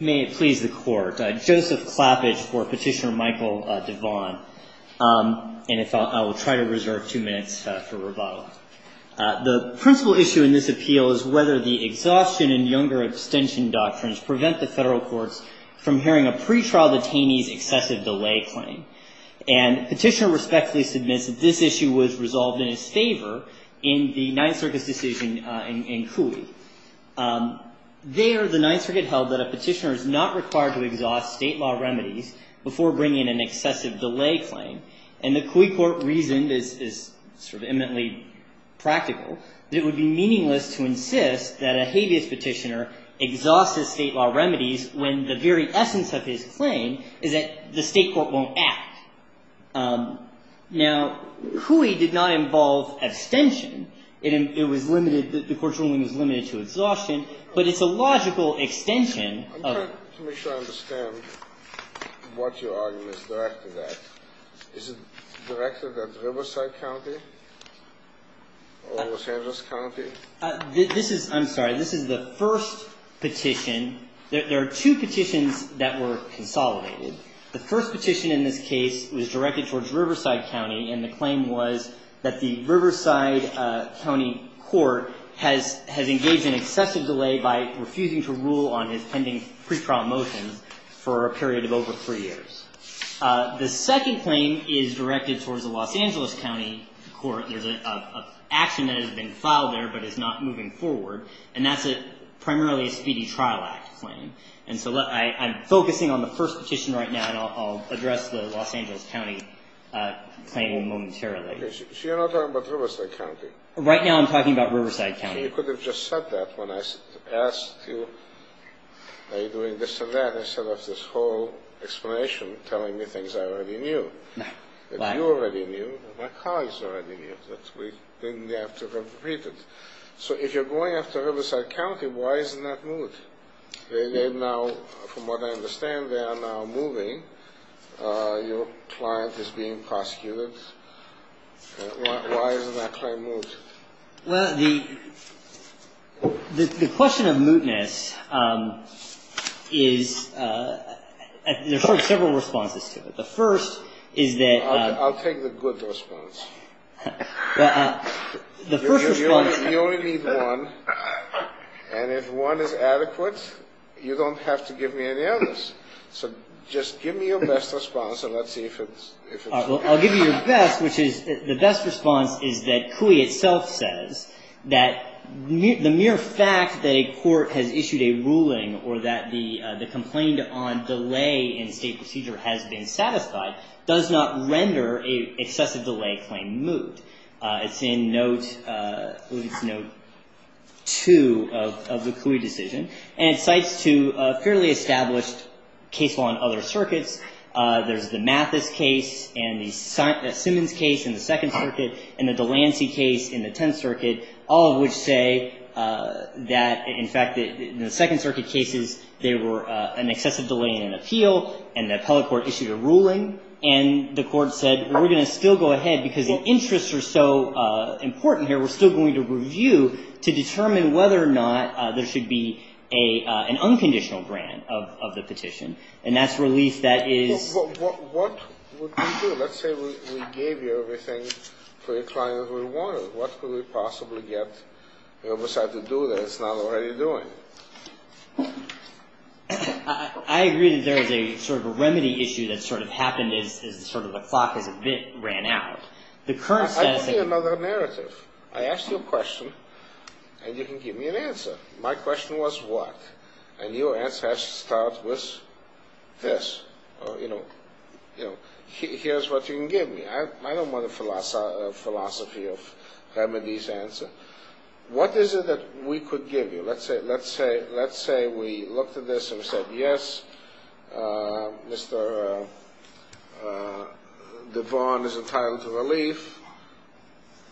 May it please the Court. Joseph Clappage for Petitioner Michael DeVaughn. And if I will try to reserve two minutes for rebuttal. The principal issue in this appeal is whether the exhaustion and younger abstention doctrines prevent the federal courts from hearing a pretrial detainee's excessive delay claim. And Petitioner respectfully submits that this issue was resolved in his favor in the Ninth Circuit's decision in Cooley. There, the Ninth Circuit held that a petitioner is not required to exhaust state law remedies before bringing an excessive delay claim. And the Cooley court reasoned, this is sort of eminently practical, that it would be meaningless to insist that a habeas petitioner exhausts his state law remedies when the very essence of his claim is that the state court won't act. Now, Cooley did not involve abstention. It was limited, the court's ruling was limited to exhaustion. But it's a logical extension of it. I'm trying to make sure I understand what your argument is directed at. Is it directed at Riverside County or Los Angeles County? This is, I'm sorry, this is the first petition. There are two petitions that were consolidated. The first petition in this case was directed towards Riverside County, and the claim was that the Riverside County court has engaged in excessive delay by refusing to rule on his pending pre-trial motions for a period of over three years. The second claim is directed towards the Los Angeles County court. There's an action that has been filed there but is not moving forward, and that's primarily a Speedy Trial Act claim. And so I'm focusing on the first petition right now, and I'll address the Los Angeles County claim momentarily. So you're not talking about Riverside County? Right now I'm talking about Riverside County. You could have just said that when I asked you, are you doing this or that, instead of this whole explanation telling me things I already knew, that you already knew and my colleagues already knew, that we didn't have to repeat it. So if you're going after Riverside County, why isn't that moved? They now, from what I understand, they are now moving. Your client is being prosecuted. Why isn't that claim moved? Well, the question of mootness is, there are several responses to it. The first is that – The first response – You only need one, and if one is adequate, you don't have to give me any others. So just give me your best response, and let's see if it's – I'll give you your best, which is the best response is that Couey itself says that the mere fact that a court has issued a ruling or that the complaint on delay in state procedure has been satisfied does not render an excessive delay claim moot. It's in note 2 of the Couey decision, and it cites two fairly established case law in other circuits. There's the Mathis case and the Simmons case in the Second Circuit and the Delancey case in the Tenth Circuit, all of which say that, in fact, in the Second Circuit cases, there were an excessive delay in an appeal, and the appellate court issued a ruling, and the court said, well, we're going to still go ahead, because the interests are so important here, we're still going to review to determine whether or not there should be an unconditional grant of the petition. And that's a release that is – Well, what would we do? Let's say we gave you everything for the client we wanted. What could we possibly get, you know, besides to do that? It's not already doing it. I agree that there is a sort of a remedy issue that sort of happened as sort of the clock has a bit ran out. I'll give you another narrative. I asked you a question, and you can give me an answer. My question was, what? And your answer has to start with this. You know, here's what you can give me. I don't want a philosophy of remedies answer. What is it that we could give you? Let's say we looked at this and said, yes, Mr. DeVaughn is entitled to relief,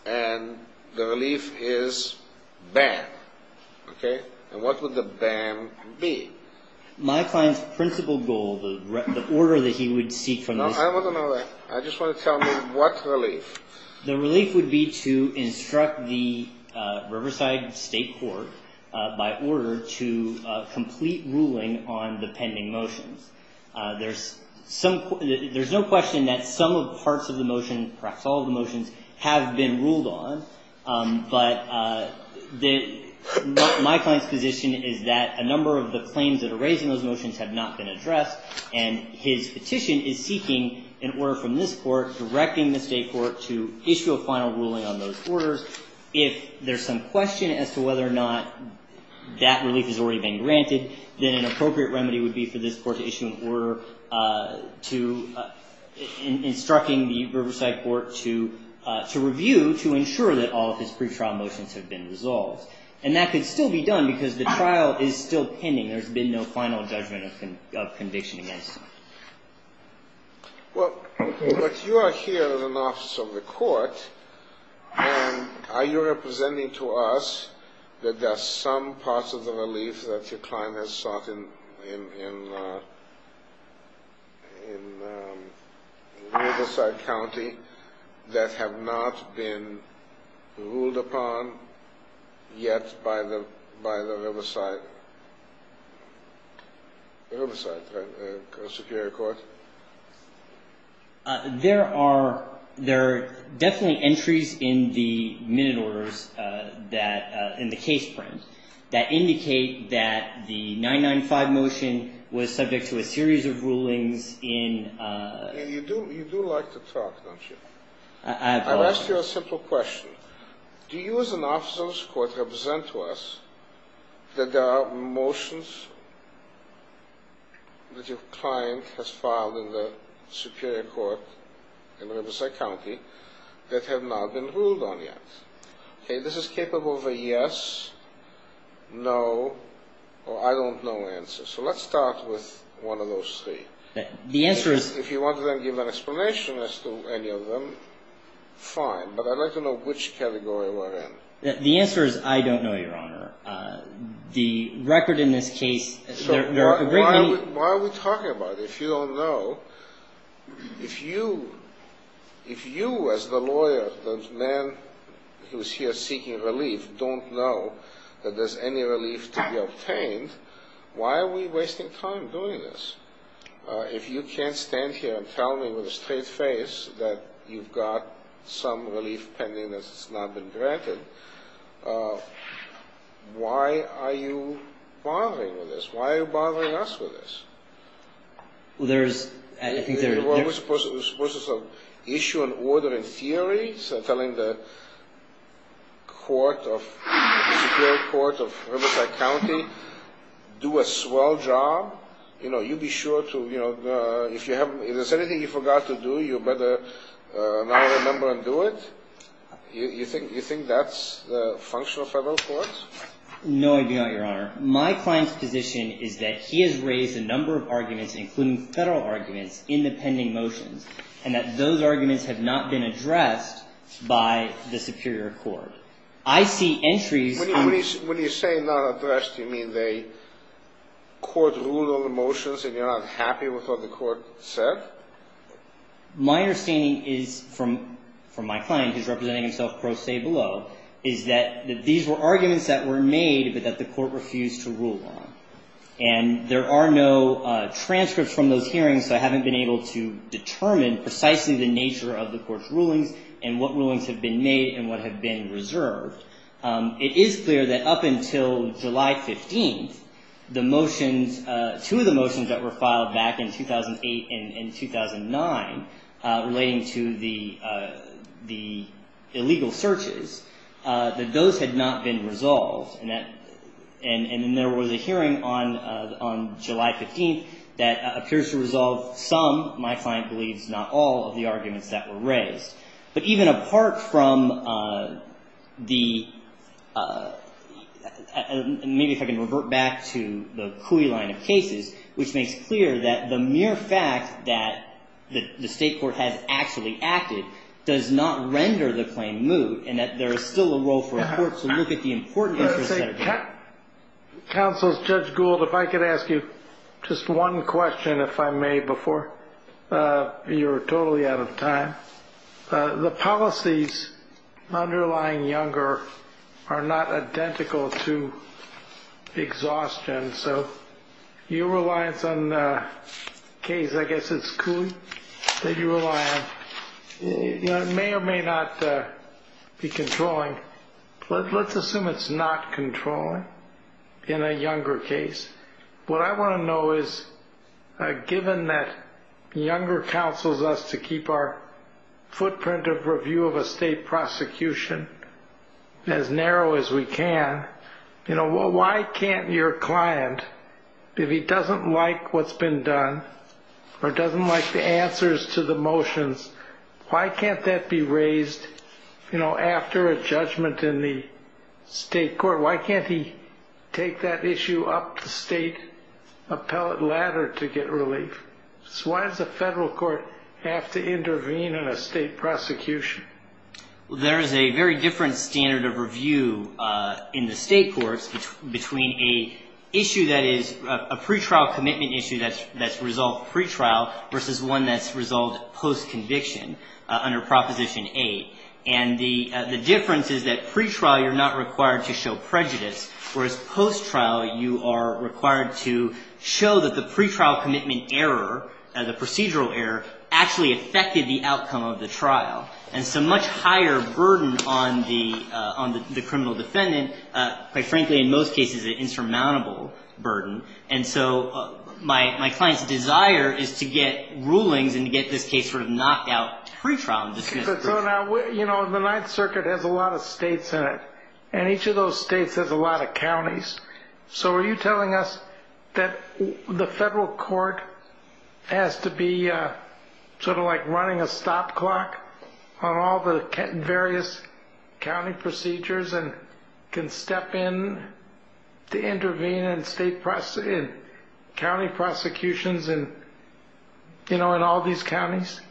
and the relief is ban. Okay? And what would the ban be? My client's principal goal, the order that he would seek from this – No, I don't want to know that. I just want to tell me what relief. The relief would be to instruct the Riverside State Court, by order, to complete ruling on the pending motions. There's no question that some parts of the motion, perhaps all of the motions, have been ruled on, but my client's position is that a number of the claims that are raised in those motions have not been addressed, and his petition is seeking an order from this Court, directing the State Court to issue a final ruling on those orders. If there's some question as to whether or not that relief has already been granted, then an appropriate remedy would be for this Court to issue an order to – instructing the Riverside Court to review, to ensure that all of his pretrial motions have been resolved. And that could still be done, because the trial is still pending. There's been no final judgment of conviction against him. Well, but you are here as an officer of the Court, and are you representing to us that there are some parts of the relief that your client has sought in Riverside County that have not been ruled upon yet by the Riverside Superior Court? There are – there are definitely entries in the minute orders that – in the case print that indicate that the 995 motion was subject to a series of rulings in – You do – you do like to talk, don't you? I have a question. I'll ask you a simple question. Do you as an officer of this Court represent to us that there are motions that your client has filed in the Superior Court in Riverside County that have not been ruled on yet? Okay, this is capable of a yes, no, or I don't know answer. So let's start with one of those three. The answer is – If you want to then give an explanation as to any of them, fine. But I'd like to know which category we're in. The answer is I don't know, Your Honor. The record in this case – So why are we talking about it if you don't know? If you – if you as the lawyer, the man who is here seeking relief, don't know that there's any relief to be obtained, why are we wasting time doing this? If you can't stand here and tell me with a straight face that you've got some relief pending that's not been granted, why are you bothering with this? Why are you bothering us with this? Well, there's – I think there's – Well, we're supposed to issue an order in theory, the Supreme Court of Riverside County, do a swell job. You know, you be sure to – if there's anything you forgot to do, you better now remember and do it. You think that's the function of federal courts? No, Your Honor. My client's position is that he has raised a number of arguments, including federal arguments, in the pending motions, and that those arguments have not been addressed by the superior court. I see entries – When you say not addressed, you mean the court ruled on the motions and you're not happy with what the court said? My understanding is, from my client, who's representing himself pro se below, is that these were arguments that were made but that the court refused to rule on. And there are no transcripts from those hearings, so I haven't been able to determine precisely the nature of the court's rulings and what rulings have been made and what have been reserved. It is clear that up until July 15th, the motions – two of the motions that were filed back in 2008 and 2009 relating to the illegal searches, that those had not been resolved. And then there was a hearing on July 15th that appears to resolve some – my client believes not all – of the arguments that were raised. But even apart from the – maybe if I can revert back to the Cooey line of cases, which makes clear that the mere fact that the state court has actually acted does not render the claim moot and that there is still a role for a court to look at the important interest that it has. Counsel, Judge Gould, if I could ask you just one question, if I may, before – you're totally out of time. The policies underlying Younger are not identical to exhaustion, so your reliance on the case, I guess it's Cooey that you rely on, may or may not be controlling. Let's assume it's not controlling in a Younger case. What I want to know is, given that Younger counsels us to keep our footprint of review of a state prosecution as narrow as we can, why can't your client, if he doesn't like what's been done or doesn't like the answers to the motions, why can't that be raised after a judgment in the state court? Why can't he take that issue up the state appellate ladder to get relief? Why does the federal court have to intervene in a state prosecution? There is a very different standard of review in the state courts between a pre-trial commitment issue that's resolved pre-trial versus one that's resolved post-conviction under Proposition 8. The difference is that pre-trial you're not required to show prejudice, whereas post-trial you are required to show that the pre-trial commitment error, the procedural error, actually affected the outcome of the trial. And so much higher burden on the criminal defendant, quite frankly in most cases, an insurmountable burden. And so my client's desire is to get rulings and to get this case sort of knocked out pre-trial. So now, you know, the Ninth Circuit has a lot of states in it, and each of those states has a lot of counties. So are you telling us that the federal court has to be sort of like running a stop clock on all the various county procedures and can step in to intervene in county prosecutions in all these counties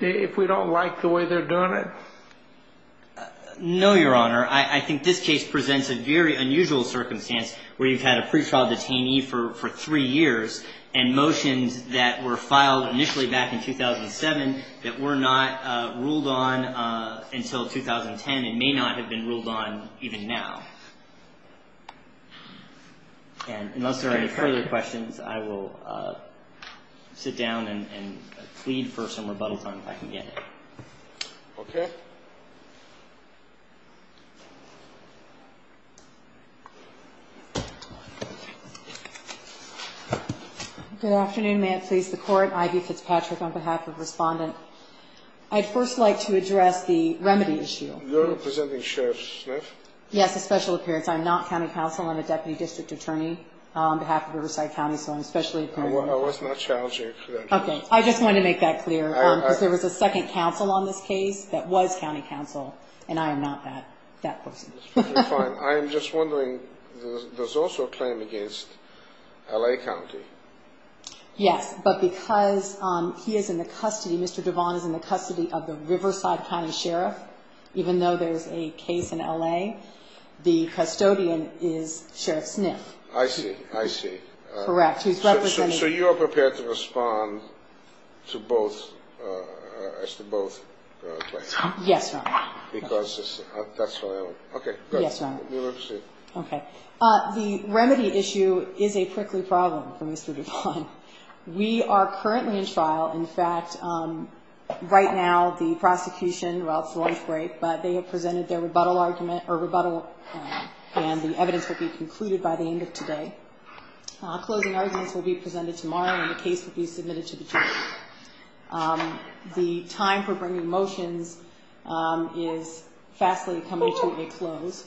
if we don't like the way they're doing it? No, Your Honor. I think this case presents a very unusual circumstance where you've had a pre-trial detainee for three years and motions that were filed initially back in 2007 that were not ruled on until 2010 and may not have been ruled on even now. And unless there are any further questions, I will sit down and plead for some rebuttal time if I can get it. Okay. Good afternoon. May it please the Court. Ivy Fitzpatrick on behalf of Respondent. I'd first like to address the remedy issue. You're representing Sheriff Smith? Yes, a special appearance. I'm not county counsel. I'm a deputy district attorney on behalf of Riverside County, so I'm a special appearance. I was not challenging. Okay. I just wanted to make that clear, because there was a second counsel on this case that was county counsel, and I am not that person. That's perfectly fine. I am just wondering, there's also a claim against L.A. County. Yes, but because he is in the custody, Mr. Devon is in the custody of the Riverside County Sheriff, even though there's a case in L.A., the custodian is Sheriff Smith. I see. I see. Correct. So you are prepared to respond to both claims? Yes, Your Honor. Because that's what I want. Okay, good. Yes, Your Honor. You may proceed. Okay. The remedy issue is a prickly problem for Mr. Devon. We are currently in trial. In fact, right now the prosecution, well, it's the last break, but they have presented their rebuttal argument, or rebuttal, and the evidence will be concluded by the end of today. Closing arguments will be presented tomorrow, and the case will be submitted to the jury. The time for bringing motions is vastly coming to a close.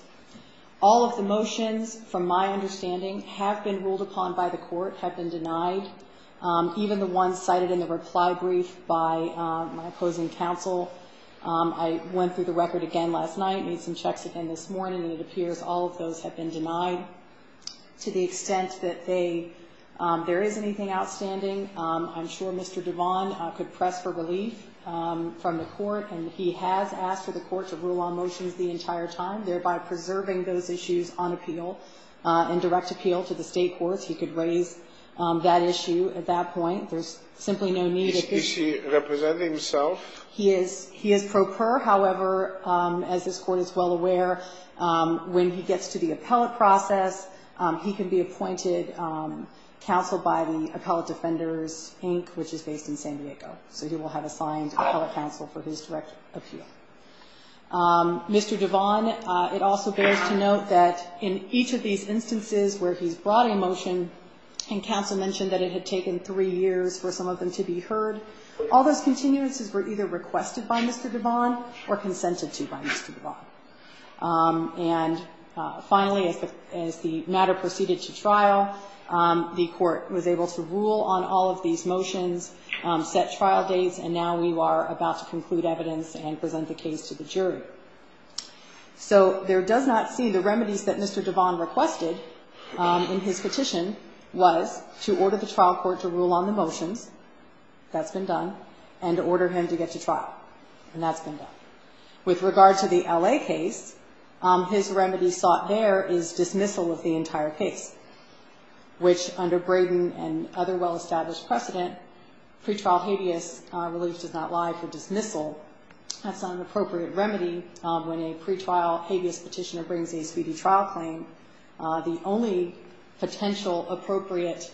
All of the motions, from my understanding, have been ruled upon by the court, have been denied. Even the ones cited in the reply brief by my opposing counsel, I went through the record again last night, made some checks again this morning, and it appears all of those have been denied. To the extent that there is anything outstanding, I'm sure Mr. Devon could press for relief from the court, and he has asked for the court to rule on motions the entire time, thereby preserving those issues on appeal and direct appeal to the State courts. He could raise that issue at that point. There's simply no need. Is he representing himself? He is. He is pro per, however, as this Court is well aware, when he gets to the appellate process, he can be appointed counsel by the Appellate Defenders, Inc., which is based in San Diego. So he will have assigned appellate counsel for his direct appeal. Mr. Devon, it also bears to note that in each of these instances where he's brought a motion, and counsel mentioned that it had taken three years for some of them to be heard, all those continuances were either requested by Mr. Devon or consented to by Mr. Devon. And finally, as the matter proceeded to trial, the court was able to rule on all of these motions, set trial dates, and now we are about to conclude evidence and present the case to the jury. So there does not see the remedies that Mr. Devon requested in his petition was to order the trial court to rule on the motions, that's been done, and to order him to get to trial, and that's been done. With regard to the L.A. case, his remedy sought there is dismissal of the entire case, which under Braden and other well-established precedent, pretrial habeas relief does not lie for dismissal. That's not an appropriate remedy. When a pretrial habeas petitioner brings a speedy trial claim, the only potential appropriate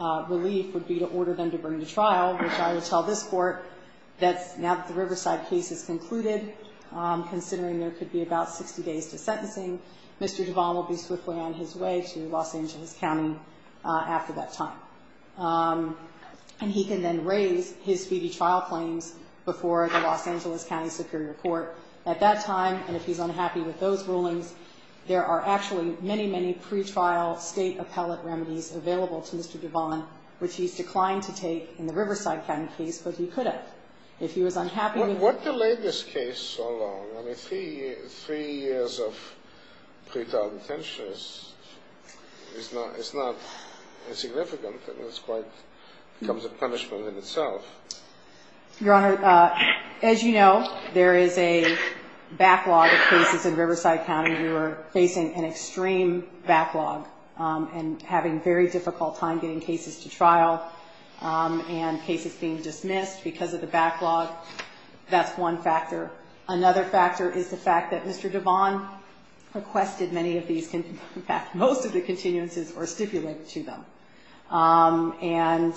relief would be to order them to bring to trial, which I will tell this Court, that now that the Riverside case is concluded, considering there could be about 60 days to sentencing, Mr. Devon will be swiftly on his way to Los Angeles County after that time. And he can then raise his speedy trial claims before the Los Angeles County Superior Court. At that time, and if he's unhappy with those rulings, there are actually many, many pretrial state appellate remedies available to Mr. Devon, which he's declined to take in the Riverside County case, but he could have. If he was unhappy with them. What delayed this case so long? I mean, three years of pretrial detention is not insignificant. I mean, it's quite ñ it becomes a punishment in itself. Your Honor, as you know, there is a backlog of cases in Riverside County. We were facing an extreme backlog and having a very difficult time getting cases to trial and cases being dismissed because of the backlog. That's one factor. Another factor is the fact that Mr. Devon requested many of these, in fact, most of the continuances were stipulated to them. And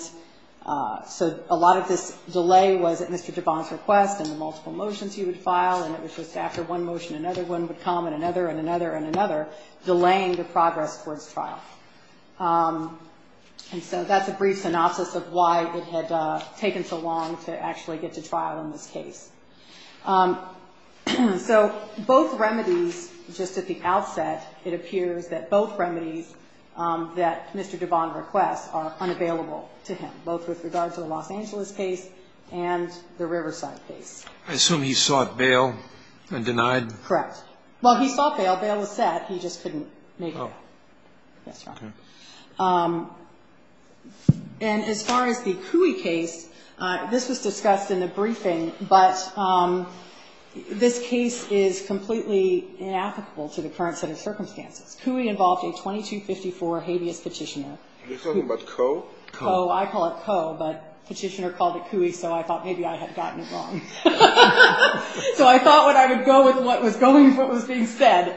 so a lot of this delay was at Mr. Devon's request and the multiple motions he would file, and it was just after one motion another one would come and another and another and another, delaying the progress towards trial. And so that's a brief synopsis of why it had taken so long to actually get to trial in this case. So both remedies, just at the outset, it appears that both remedies that Mr. Devon requests are unavailable to him, both with regard to the Los Angeles case and the Riverside case. I assume he sought bail and denied? Correct. Well, he sought bail. Bail was set. He just couldn't make it. Oh. That's right. Okay. And as far as the Cooey case, this was discussed in the briefing, but this case is completely inapplicable to the current set of circumstances. Cooey involved a 2254 habeas petitioner. Coe. I call it Coe, but Petitioner called it Cooey, so I thought maybe I had gotten it wrong. So I thought I would go with what was being said.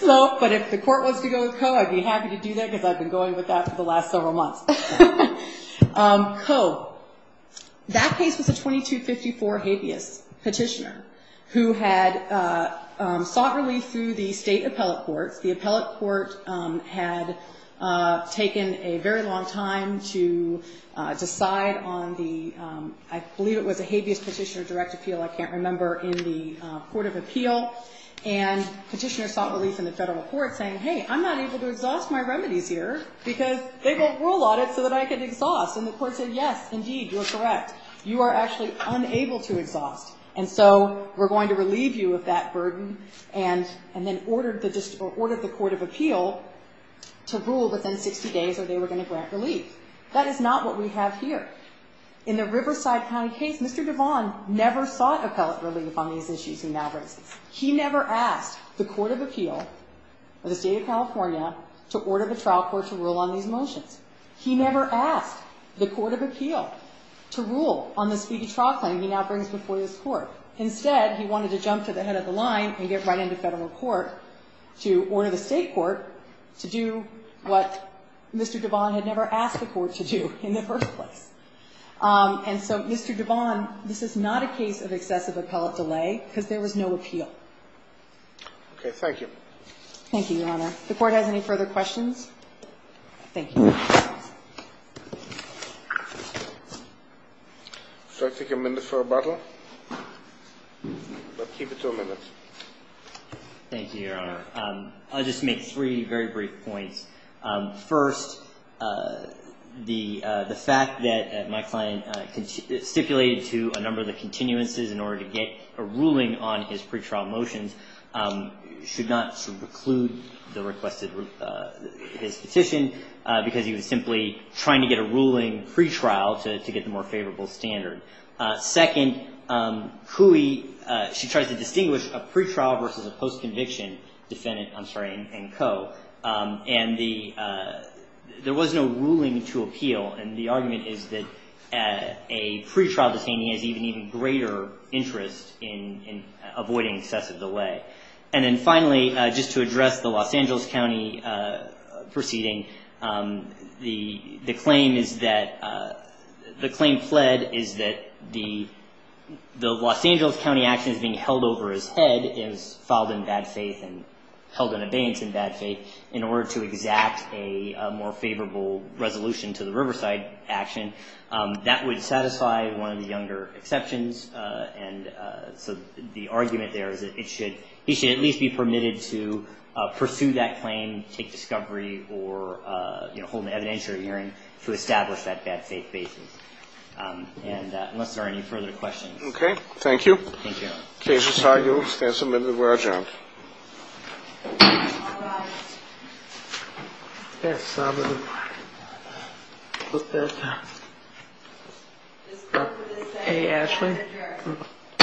But if the court wants to go with Coe, I'd be happy to do that because I've been going with that for the last several months. Coe. That case was a 2254 habeas petitioner who had sought relief through the state appellate courts. The appellate court had taken a very long time to decide on the, I believe it was a habeas petitioner direct appeal, I can't remember, in the court of appeal, and Petitioner sought relief in the federal court saying, hey, I'm not able to exhaust my remedies here because they won't rule on it so that I can exhaust. And the court said, yes, indeed, you're correct. You are actually unable to exhaust, and so we're going to relieve you of that burden and then ordered the court of appeal to rule within 60 days or they were going to grant relief. That is not what we have here. In the Riverside County case, Mr. Devon never sought appellate relief on these issues he now raises. He never asked the court of appeal of the state of California to order the trial court to rule on these motions. He never asked the court of appeal to rule on this speedy trial claim he now brings before this court. Instead, he wanted to jump to the head of the line and get right into federal court to order the state court to do what Mr. Devon had never asked the court to do in the first place. And so, Mr. Devon, this is not a case of excessive appellate delay because there was no appeal. Okay. Thank you. Thank you, Your Honor. If the court has any further questions, thank you. Should I take a minute for rebuttal? Let's keep it to a minute. Thank you, Your Honor. I'll just make three very brief points. First, the fact that my client stipulated to a number of the continuances in order to get a ruling on his pretrial motions should not preclude the request of his petition because he was simply trying to get a ruling pretrial to get the more favorable standard. Second, Cooey, she tried to distinguish a pretrial versus a post-conviction defendant, I'm sorry, and co. And there was no ruling to appeal, and the argument is that a pretrial detainee has even greater interest in avoiding excessive delay. And then finally, just to address the Los Angeles County proceeding, the claim is that the claim fled is that the Los Angeles County actions being held over his head is filed in bad faith and held in abeyance in bad faith in order to exact a more favorable resolution to the Riverside action. That would satisfy one of the younger exceptions, and so the argument there is that he should at least be permitted to pursue that claim, take discovery, or hold an evidentiary hearing to establish that bad faith basis. And unless there are any further questions. Okay. Thank you. Thank you.